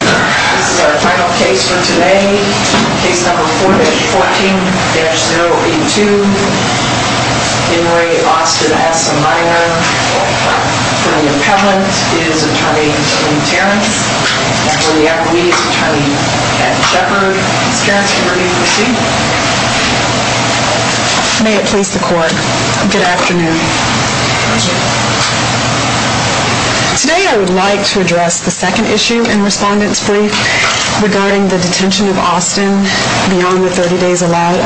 This is our final case for today. Case number 14-082. In re. Austin S. O'Meara. For the appellant, it is Attorney Lynn Terrence. And for the appellee, it's Attorney Pat Shepard. Ms. Terrence, you may proceed. May it please the court. Good afternoon. Pleasure. Today I would like to address the second issue in Respondent's brief regarding the detention of Austin beyond the 30 days allowed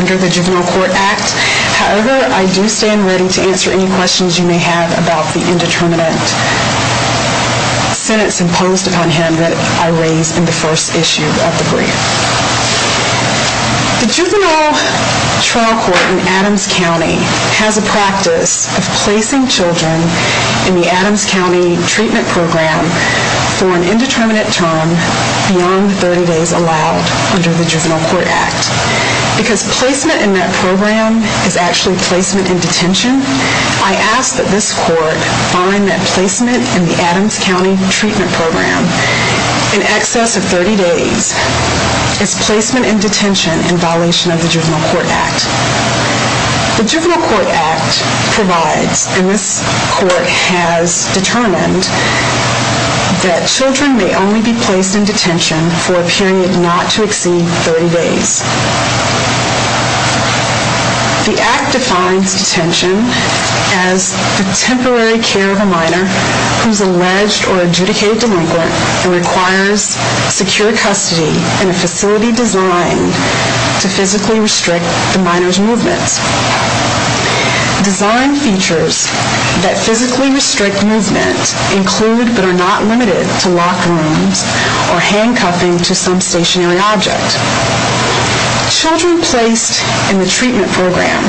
under the Juvenile Court Act. However, I do stand ready to answer any questions you may have about the indeterminate sentence imposed upon him that I raised in the first issue of the brief. The juvenile trial court in Adams County has a practice of placing children in the Adams County treatment program for an indeterminate term beyond the 30 days allowed under the Juvenile Court Act. Because placement in that program is actually placement in detention, I ask that this court find that placement in the Adams County treatment program in excess of 30 days is placement in detention in violation of the Juvenile Court Act. The Juvenile Court Act provides, and this court has determined, that children may only be placed in detention for a period not to exceed 30 days. The Act defines detention as the temporary care of a minor who is an alleged or adjudicated delinquent and requires secure custody in a facility designed to physically restrict the minor's movement. Designed features that physically restrict movement include but are not limited to locked rooms or handcuffing to some stationary object. Children placed in the treatment program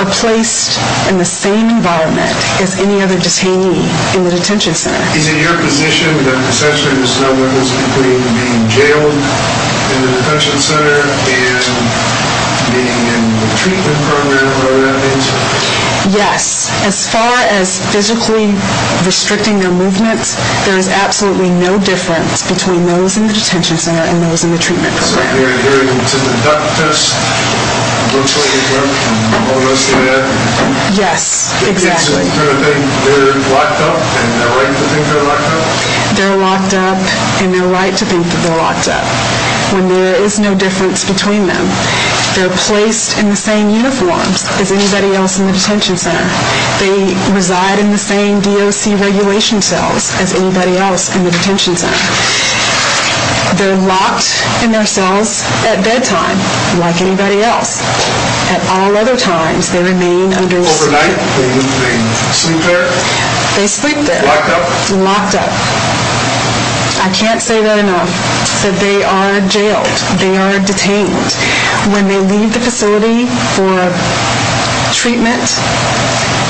are placed in the same environment as any other detainee in the detention center. Is it your position that essentially there's no limits between being jailed in the detention center and being in the treatment program? Yes. As far as physically restricting their movement, there is absolutely no difference between those in the detention center and those in the treatment program. So you're adhering to the duct test virtually as well? Yes, exactly. So you're saying they're locked up and they're right to think they're locked up? They're locked up and they're right to think that they're locked up when there is no difference between them. They're placed in the same uniforms as anybody else in the detention center. They reside in the same DOC regulation cells as anybody else in the detention center. They're locked in their cells at bedtime like anybody else. At all other times they remain under... Overnight they sleep there? They sleep there. Locked up? Locked up. I can't say that enough. They are jailed. They are detained. When they leave the facility for treatment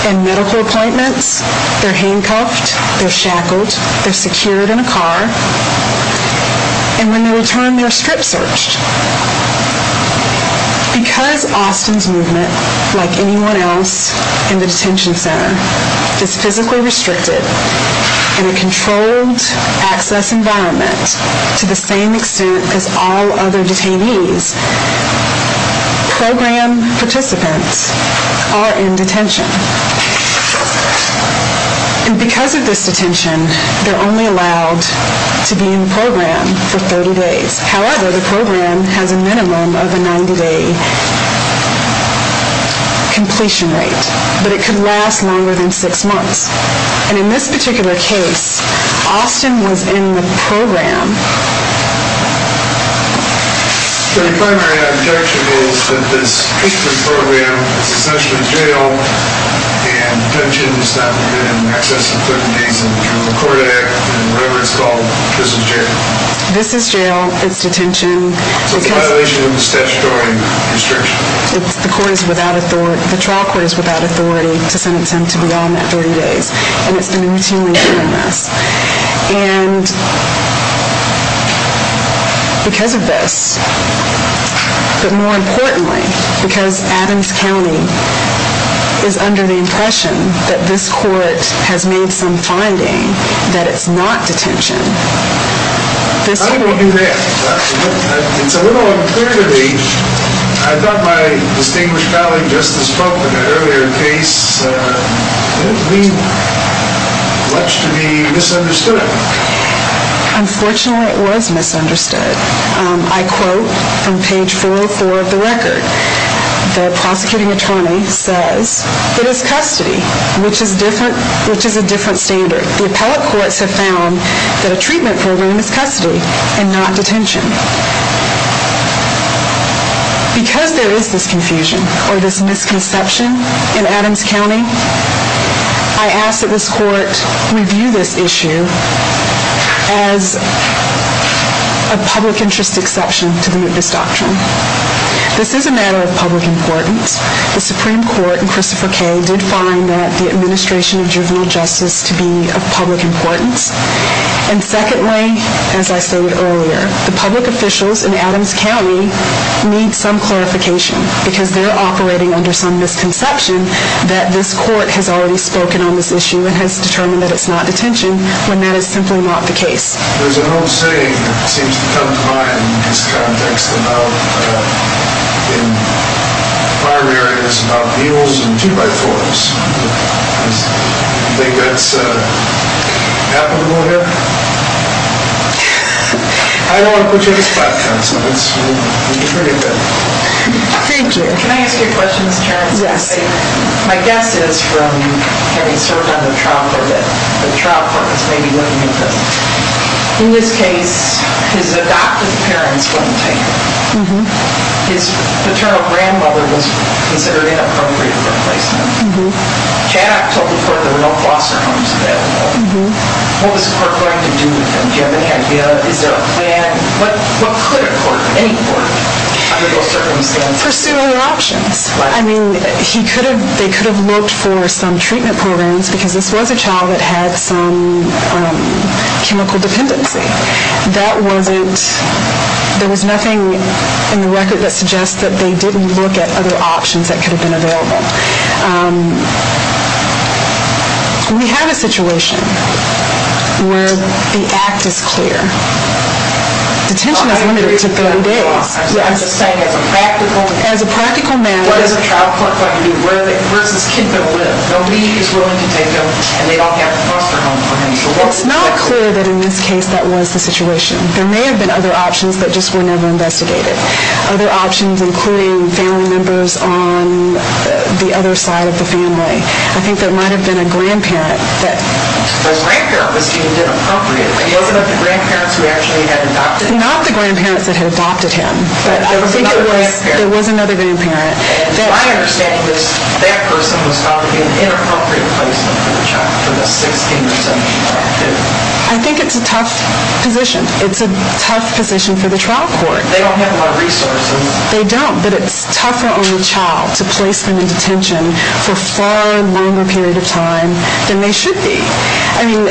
and medical appointments, they're handcuffed, they're shackled, they're secured in a car. And when they return, they're strip searched. Because Austin's movement, like anyone else in the detention center, is physically restricted in a controlled access environment to the same extent as all other detainees, program participants are in detention. And because of this detention, they're only allowed to be in the program for 30 days. However, the program has a minimum of a 90-day completion rate. But it could last longer than six months. And in this particular case, Austin was in the program. So your primary objection is that this treatment program is essentially jail and detention is not permitted in excess of 30 days under the Criminal Court Act, and whatever it's called, this is jail. This is jail. It's detention. It's a violation of the statutory restriction. The trial court is without authority to sentence him to beyond that 30 days. And it's been routinely doing this. And because of this, but more importantly, because Adams County is under the impression that this court has made some finding that it's not detention, this court... How did you do that? It's a little unclear to me. I thought my distinguished colleague Justice Butler, in an earlier case, didn't leave much to be misunderstood. Unfortunately, it was misunderstood. I quote from page 404 of the record. The prosecuting attorney says, It is custody, which is a different standard. The appellate courts have found that a treatment program is custody and not detention. Because there is this confusion or this misconception in Adams County, I ask that this court review this issue as a public interest exception to the Moot Disdoctrine. This is a matter of public importance. The Supreme Court in Christopher K. did find that the administration of juvenile justice to be of public importance. And secondly, as I said earlier, the public officials in Adams County need some clarification because they're operating under some misconception that this court has already spoken on this issue and has determined that it's not detention when that is simply not the case. There's an old saying that seems to come to mind in this context about in primaries about mules and two-by-fours. Do you think that's applicable here? I don't want to put you on the spot, counsel. It's pretty good. Thank you. Can I ask you a question, Mr. Chairman? Yes. My guess is from having served on the trial court that the trial court is maybe looking at this. In this case, his adoptive parents weren't taken. His paternal grandmother was considered inappropriate for replacement. Caddock told the court there were no foster homes available. What was the court going to do with him? Do you have any idea? Is there a plan? What could a court, any court, under those circumstances do? Pursue other options. I mean, they could have looked for some treatment programs because this was a child that had some chemical dependency. That wasn't, there was nothing in the record that suggests that they didn't look at other options that could have been available. We have a situation where the act is clear. Detention is limited to 30 days. I'm just saying as a practical matter. As a practical matter. Where does this kid go to live? Nobody is willing to take him, and they don't have a foster home for him. It's not clear that in this case that was the situation. There may have been other options, but just were never investigated. Other options including family members on the other side of the family. I think there might have been a grandparent. The grandparent was deemed inappropriate. He opened up to grandparents who actually had adopted him. Not the grandparents that had adopted him, but I think it was another grandparent. My understanding is that person was called in for an inappropriate placement for the child, for the 16 or 17-year-old kid. I think it's a tough position. It's a tough position for the trial court. They don't have a lot of resources. They don't, but it's tougher on the child to place them in detention for a far longer period of time than they should be. I mean,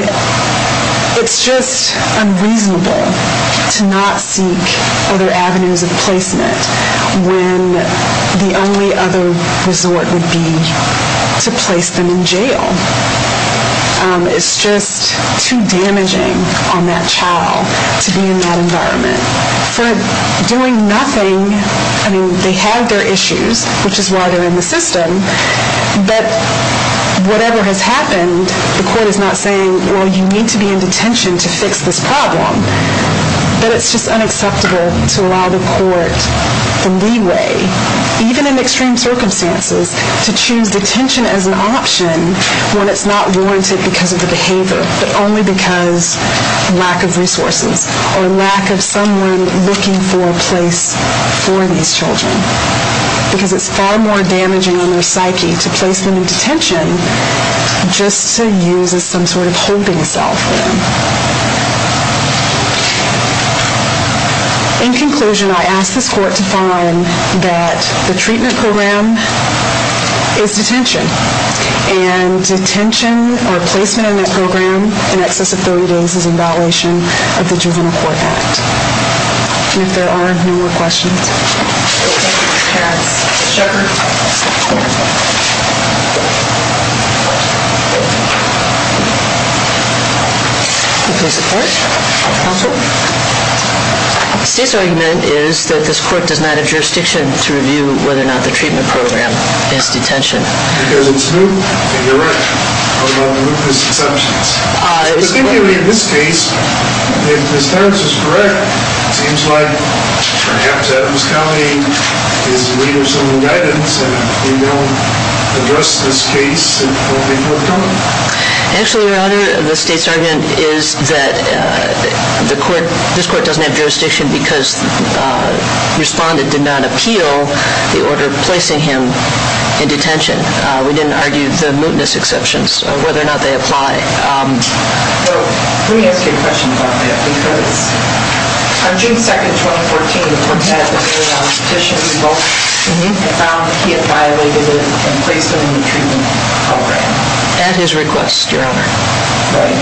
it's just unreasonable to not seek other avenues of placement when the only other resort would be to place them in jail. It's just too damaging on that child to be in that environment. For doing nothing, I mean, they have their issues, which is why they're in the system. But whatever has happened, the court is not saying, well, you need to be in detention to fix this problem. But it's just unacceptable to allow the court the leeway, even in extreme circumstances, to choose detention as an option when it's not warranted because of the behavior, but only because of lack of resources or lack of someone looking for a place for these children. Because it's far more damaging on their psyche to place them in detention just to use as some sort of holding cell for them. In conclusion, I ask this court to find that the treatment program is detention, and detention or placement in that program in excess of 30 days is in violation of the Juvenile Court Act. And if there are no more questions, Thank you, Ms. Terrence. Ms. Shepard? The state's argument is that this court does not have jurisdiction to review whether or not the treatment program is detention. Because it's new? You're right. How about the Lucas exceptions? Specifically in this case, if Ms. Terrence is correct, it seems like perhaps Adams County is in need of some new guidance and if we don't address this case, it won't be forthcoming. Actually, Your Honor, the state's argument is that this court doesn't have jurisdiction because the respondent did not appeal the order placing him in detention. We didn't argue the mootness exceptions or whether or not they apply. Let me ask you a question about that. Because on June 2nd, 2014, the court had a petition and found that he had violated the placement in the treatment program. At his request, Your Honor. Right.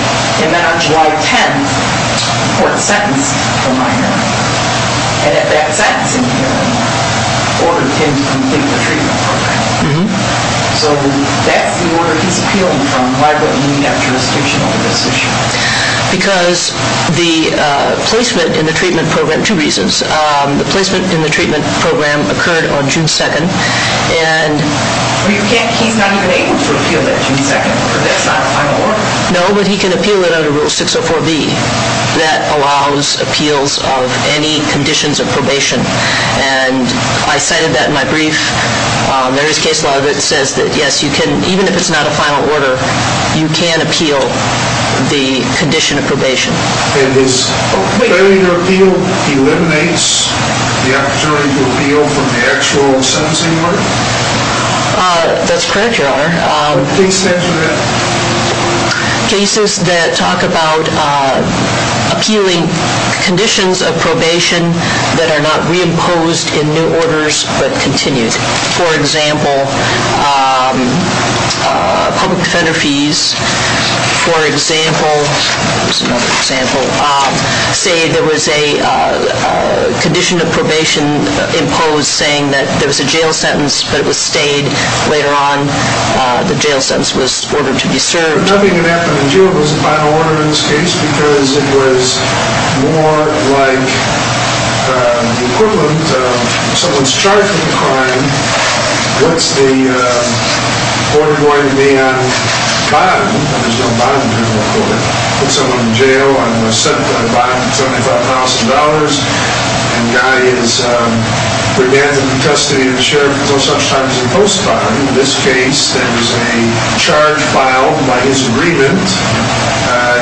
And then on July 10th, the court sentenced the minor. And at that sentencing hearing, ordered him to complete the treatment program. So that's the order he's appealing from. Why would he need to have jurisdiction over this issue? Because the placement in the treatment program, two reasons. The placement in the treatment program occurred on June 2nd. He's not even able to appeal that June 2nd. That's not a final order. No, but he can appeal it under Rule 604B that allows appeals of any conditions of probation. And I cited that in my brief. There is case law that says that, yes, you can, even if it's not a final order, you can appeal the condition of probation. And his failure to appeal eliminates the opportunity to appeal from the actual sentencing hearing? That's correct, Your Honor. Please state that again. Cases that talk about appealing conditions of probation that are not reimposed in new orders but continued. For example, public defender fees, for example, that was another example. Say there was a condition of probation imposed saying that there was a jail sentence but it was stayed. Later on, the jail sentence was ordered to be served. But nothing had happened until it was a final order in this case because it was more like the equivalent of someone's charged with a crime. What's the order going to be on bond? There's no bond in criminal court. Put someone in jail on a bond of $75,000, and the guy is remanded in custody of the sheriff until such time as he's post-bond. In this case, there is a charge filed by his agreement.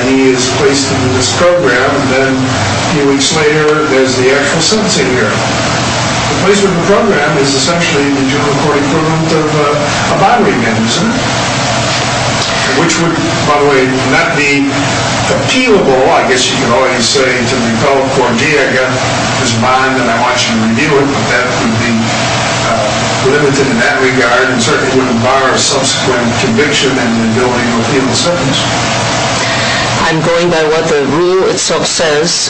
He is placed in this program. And then a few weeks later, there's the actual sentencing hearing. The placement of the program is essentially the juvenile court equivalent of a bond remand, isn't it? Which would, by the way, not be appealable, I guess you could always say to the appellate court, gee, I got this bond and I want you to review it, but that would be limited in that regard and certainly wouldn't bar a subsequent conviction and the ability to appeal the sentence. I'm going by what the rule itself says,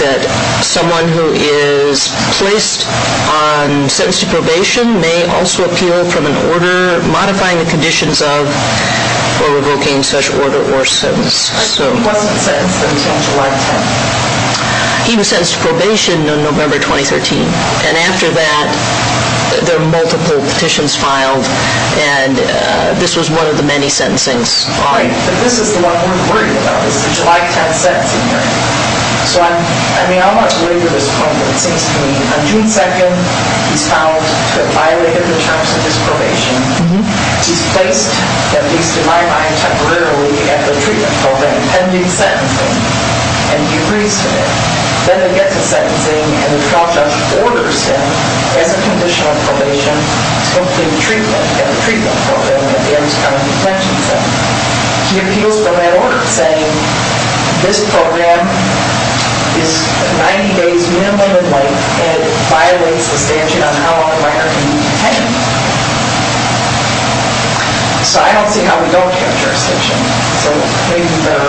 that someone who is placed on sentence to probation may also appeal from an order modifying the conditions of or revoking such order or sentence. He wasn't sentenced until July 10th? He was sentenced to probation on November 2013. And after that, there were multiple petitions filed, and this was one of the many sentencings. Right, but this is the one we're worried about, this July 10th sentencing hearing. So I mean, I'm not worried at this point, but it seems to me on June 2nd, he's found to have violated the terms of his probation. He's placed, at least in my mind, temporarily at the treatment program, pending sentencing, and he agrees to that. Then he gets to sentencing and the trial judge orders him, as a condition of probation, to complete treatment at the treatment program at the Ames County Detention Center. He appeals from that order saying, this program is 90 days minimum in length and it violates the statute on how long a minor can be detained. So I don't see how we don't have jurisdiction. So maybe we'd better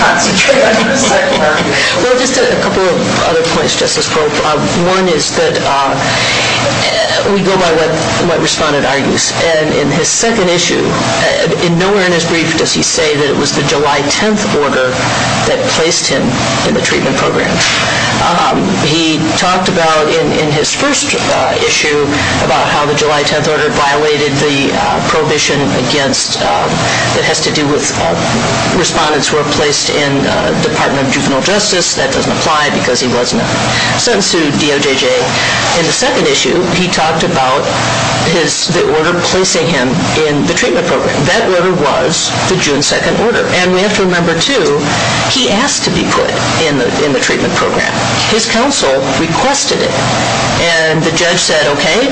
concentrate on his second argument. Well, just a couple of other points, Justice Pope. One is that we go by what Respondent argues, and in his second issue, nowhere in his brief does he say that it was the July 10th order that placed him in the treatment program. He talked about, in his first issue, about how the July 10th order violated the prohibition that has to do with respondents who are placed in the Department of Juvenile Justice. That doesn't apply because he wasn't sentenced to DOJJ. In the second issue, he talked about the order placing him in the treatment program. That order was the June 2nd order. And we have to remember, too, he asked to be put in the treatment program. His counsel requested it. And the judge said, okay,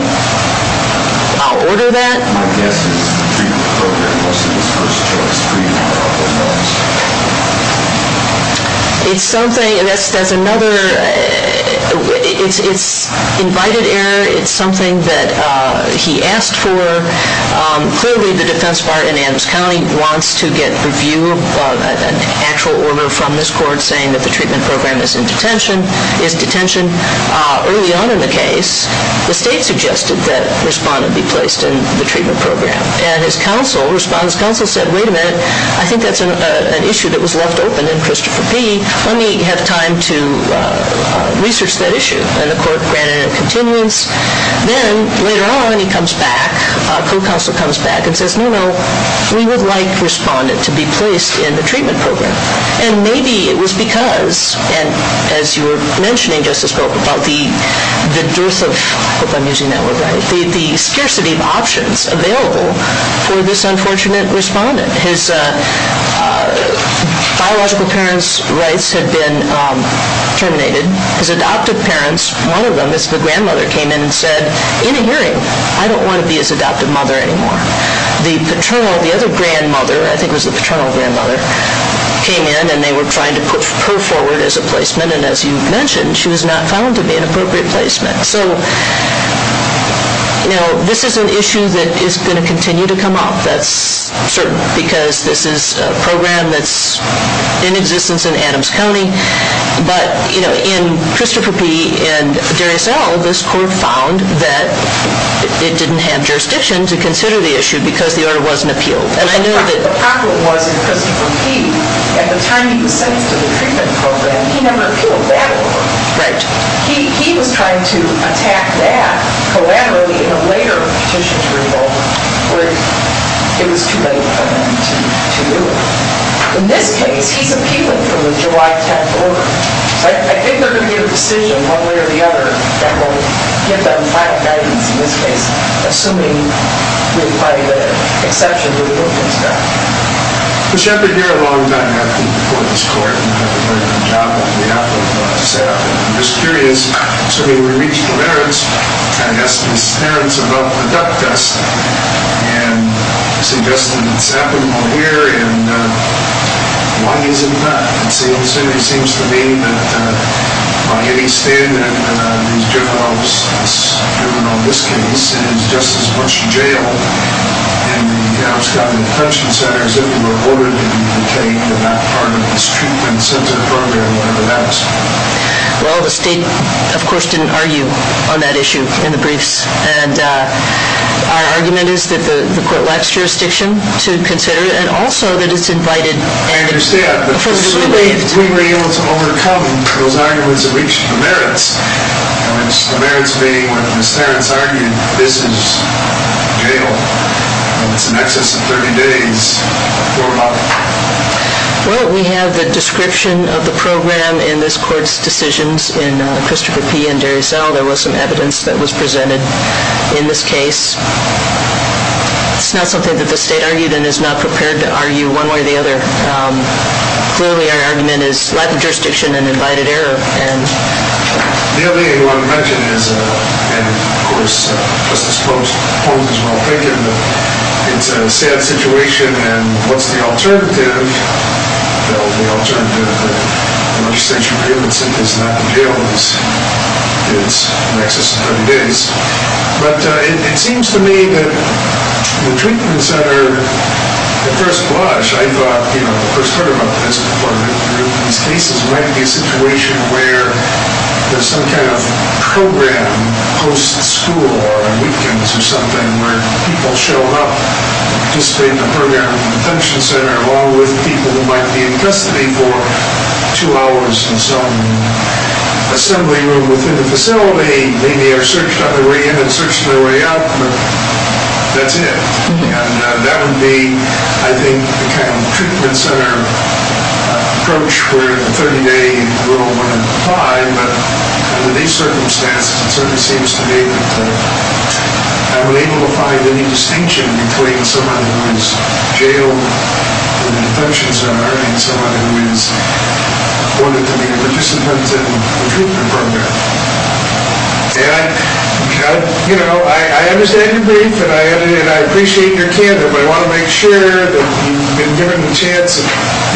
I'll order that. My guess is the treatment program wasn't his first choice. Freedom of parole was. It's something, there's another, it's invited error. It's something that he asked for. Clearly, the defense bar in Adams County wants to get review of an actual order from this court saying that the treatment program is in detention, is detention. Early on in the case, the state suggested that Respondent be placed in the treatment program. And his counsel, Respondent's counsel said, wait a minute, I think that's an issue that was left open in Christopher P. Let me have time to research that issue. And the court granted a continuance. Then, later on, he comes back, co-counsel comes back and says, no, no, we would like Respondent to be placed in the treatment program. And maybe it was because, and as you were mentioning, Justice Brokamp, about the dearth of, I hope I'm using that word right, the scarcity of options available for this unfortunate Respondent. His biological parents' rights had been terminated. His adoptive parents, one of them is the grandmother, came in and said, in a hearing, I don't want to be his adoptive mother anymore. The paternal, the other grandmother, I think it was the paternal grandmother, came in and they were trying to put her forward as a placement. And as you mentioned, she was not found to be an appropriate placement. So, you know, this is an issue that is going to continue to come up. That's certain, because this is a program that's in existence in Adams County. But, you know, in Christopher P. and Darius L., this court found that it didn't have jurisdiction to consider the issue because the order wasn't appealed. And I know that the problem was in Christopher P., at the time he was sentenced to the treatment program, he never appealed that order. Right. He was trying to attack that collaterally in a later petition to revolt, where it was too late for him to do it. In this case, he's appealing from the July 10th order. So I think they're going to get a decision one way or the other that will give them final guidance in this case, assuming we apply the exception to the Wilkins Act. But you have been here a long time, I think, before this court, and you have been doing a good job on behalf of SAP. And I'm just curious, so when we reached the veterans, and I asked these parents about the duck test, and suggested that SAP would come here, and why isn't that? And it seems to me that by any standard, these juveniles, this juvenile in this case, is just as much jailed in the outskirt detention centers if they were ordered to be detained and not part of this treatment center program, whatever that is. Well, the state, of course, didn't argue on that issue in the briefs. And our argument is that the court lacks jurisdiction to consider it, and also that it's invited. I understand. Absolutely. But if we were able to overcome those arguments and reach the merits, the merits being what Ms. Terence argued, this is jail. It's in excess of 30 days. Well, we have the description of the program in this court's decisions. In Christopher P. and Darius L., there was some evidence that was presented in this case. It's not something that the state argued and is not prepared to argue one way or the other. Clearly, our argument is lack of jurisdiction and invited error. The other thing I want to mention is, and, of course, Justice Pope's point is well taken, that it's a sad situation, and what's the alternative? The legislature prohibits it. It's not the jail. It's in excess of 30 days. But it seems to me that the treatment center, at first blush, I thought, you know, when I first heard about this before, that these cases might be a situation where there's some kind of program post-school or on weekends or something where people show up and participate in the program along with people who might be in custody for two hours in some assembly room within the facility, maybe are searched on their way in and searched on their way out, but that's it. And that would be, I think, the kind of treatment center approach where the 30-day rule wouldn't apply. But under these circumstances, it certainly seems to me that I'm unable to find any distinction between someone who is jailed in a detention center and someone who is wanted to be a participant in a treatment program. And, you know, I understand your grief, and I appreciate your candor, but I want to make sure that you've been given the chance,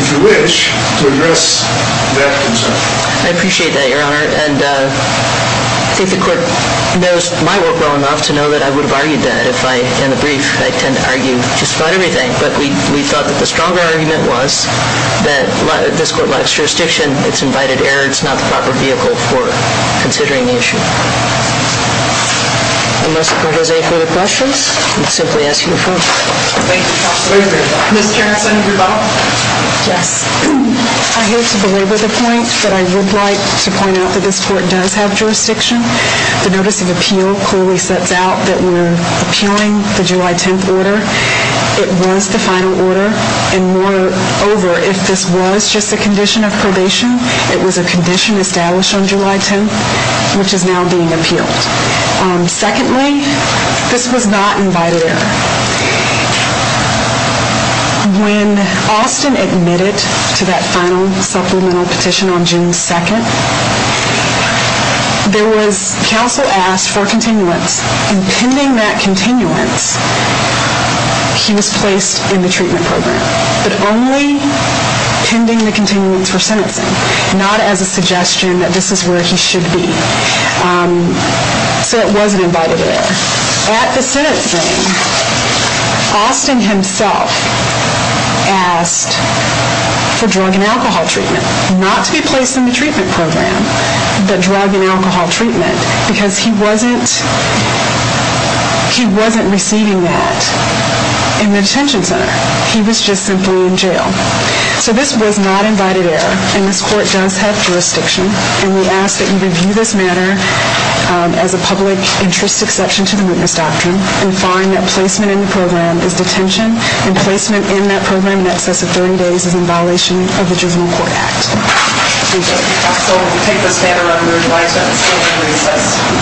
if you wish, to address that concern. I appreciate that, Your Honor, and I think the Court knows my work well enough to know that I would have argued that if I, in the brief, I tend to argue just about everything. But we thought that the stronger argument was that this Court lacks jurisdiction. It's invited error. It's not the proper vehicle for considering the issue. Unless the Court has any further questions, I'll simply ask you to vote. Thank you, Counsel. Ms. Jensen, your vote? Yes. I hate to belabor the point, but I would like to point out that this Court does have jurisdiction. The Notice of Appeal clearly sets out that we're appealing the July 10th order. It was the final order, and moreover, if this was just a condition of probation, it was a condition established on July 10th, which is now being appealed. Secondly, this was not invited error. When Austin admitted to that final supplemental petition on June 2nd, there was counsel asked for a continuance, and pending that continuance, he was placed in the treatment program, but only pending the continuance for sentencing, not as a suggestion that this is where he should be. So it wasn't invited error. At the sentencing, Austin himself asked for drug and alcohol treatment, not to be placed in the treatment program, but drug and alcohol treatment, because he wasn't receiving that in the detention center. He was just simply in jail. So this was not invited error, and this Court does have jurisdiction, and we ask that you review this matter as a public interest exception to the witness doctrine and find that placement in the program is detention, and placement in that program in excess of 30 days is in violation of the Juvenile Court Act. Thank you.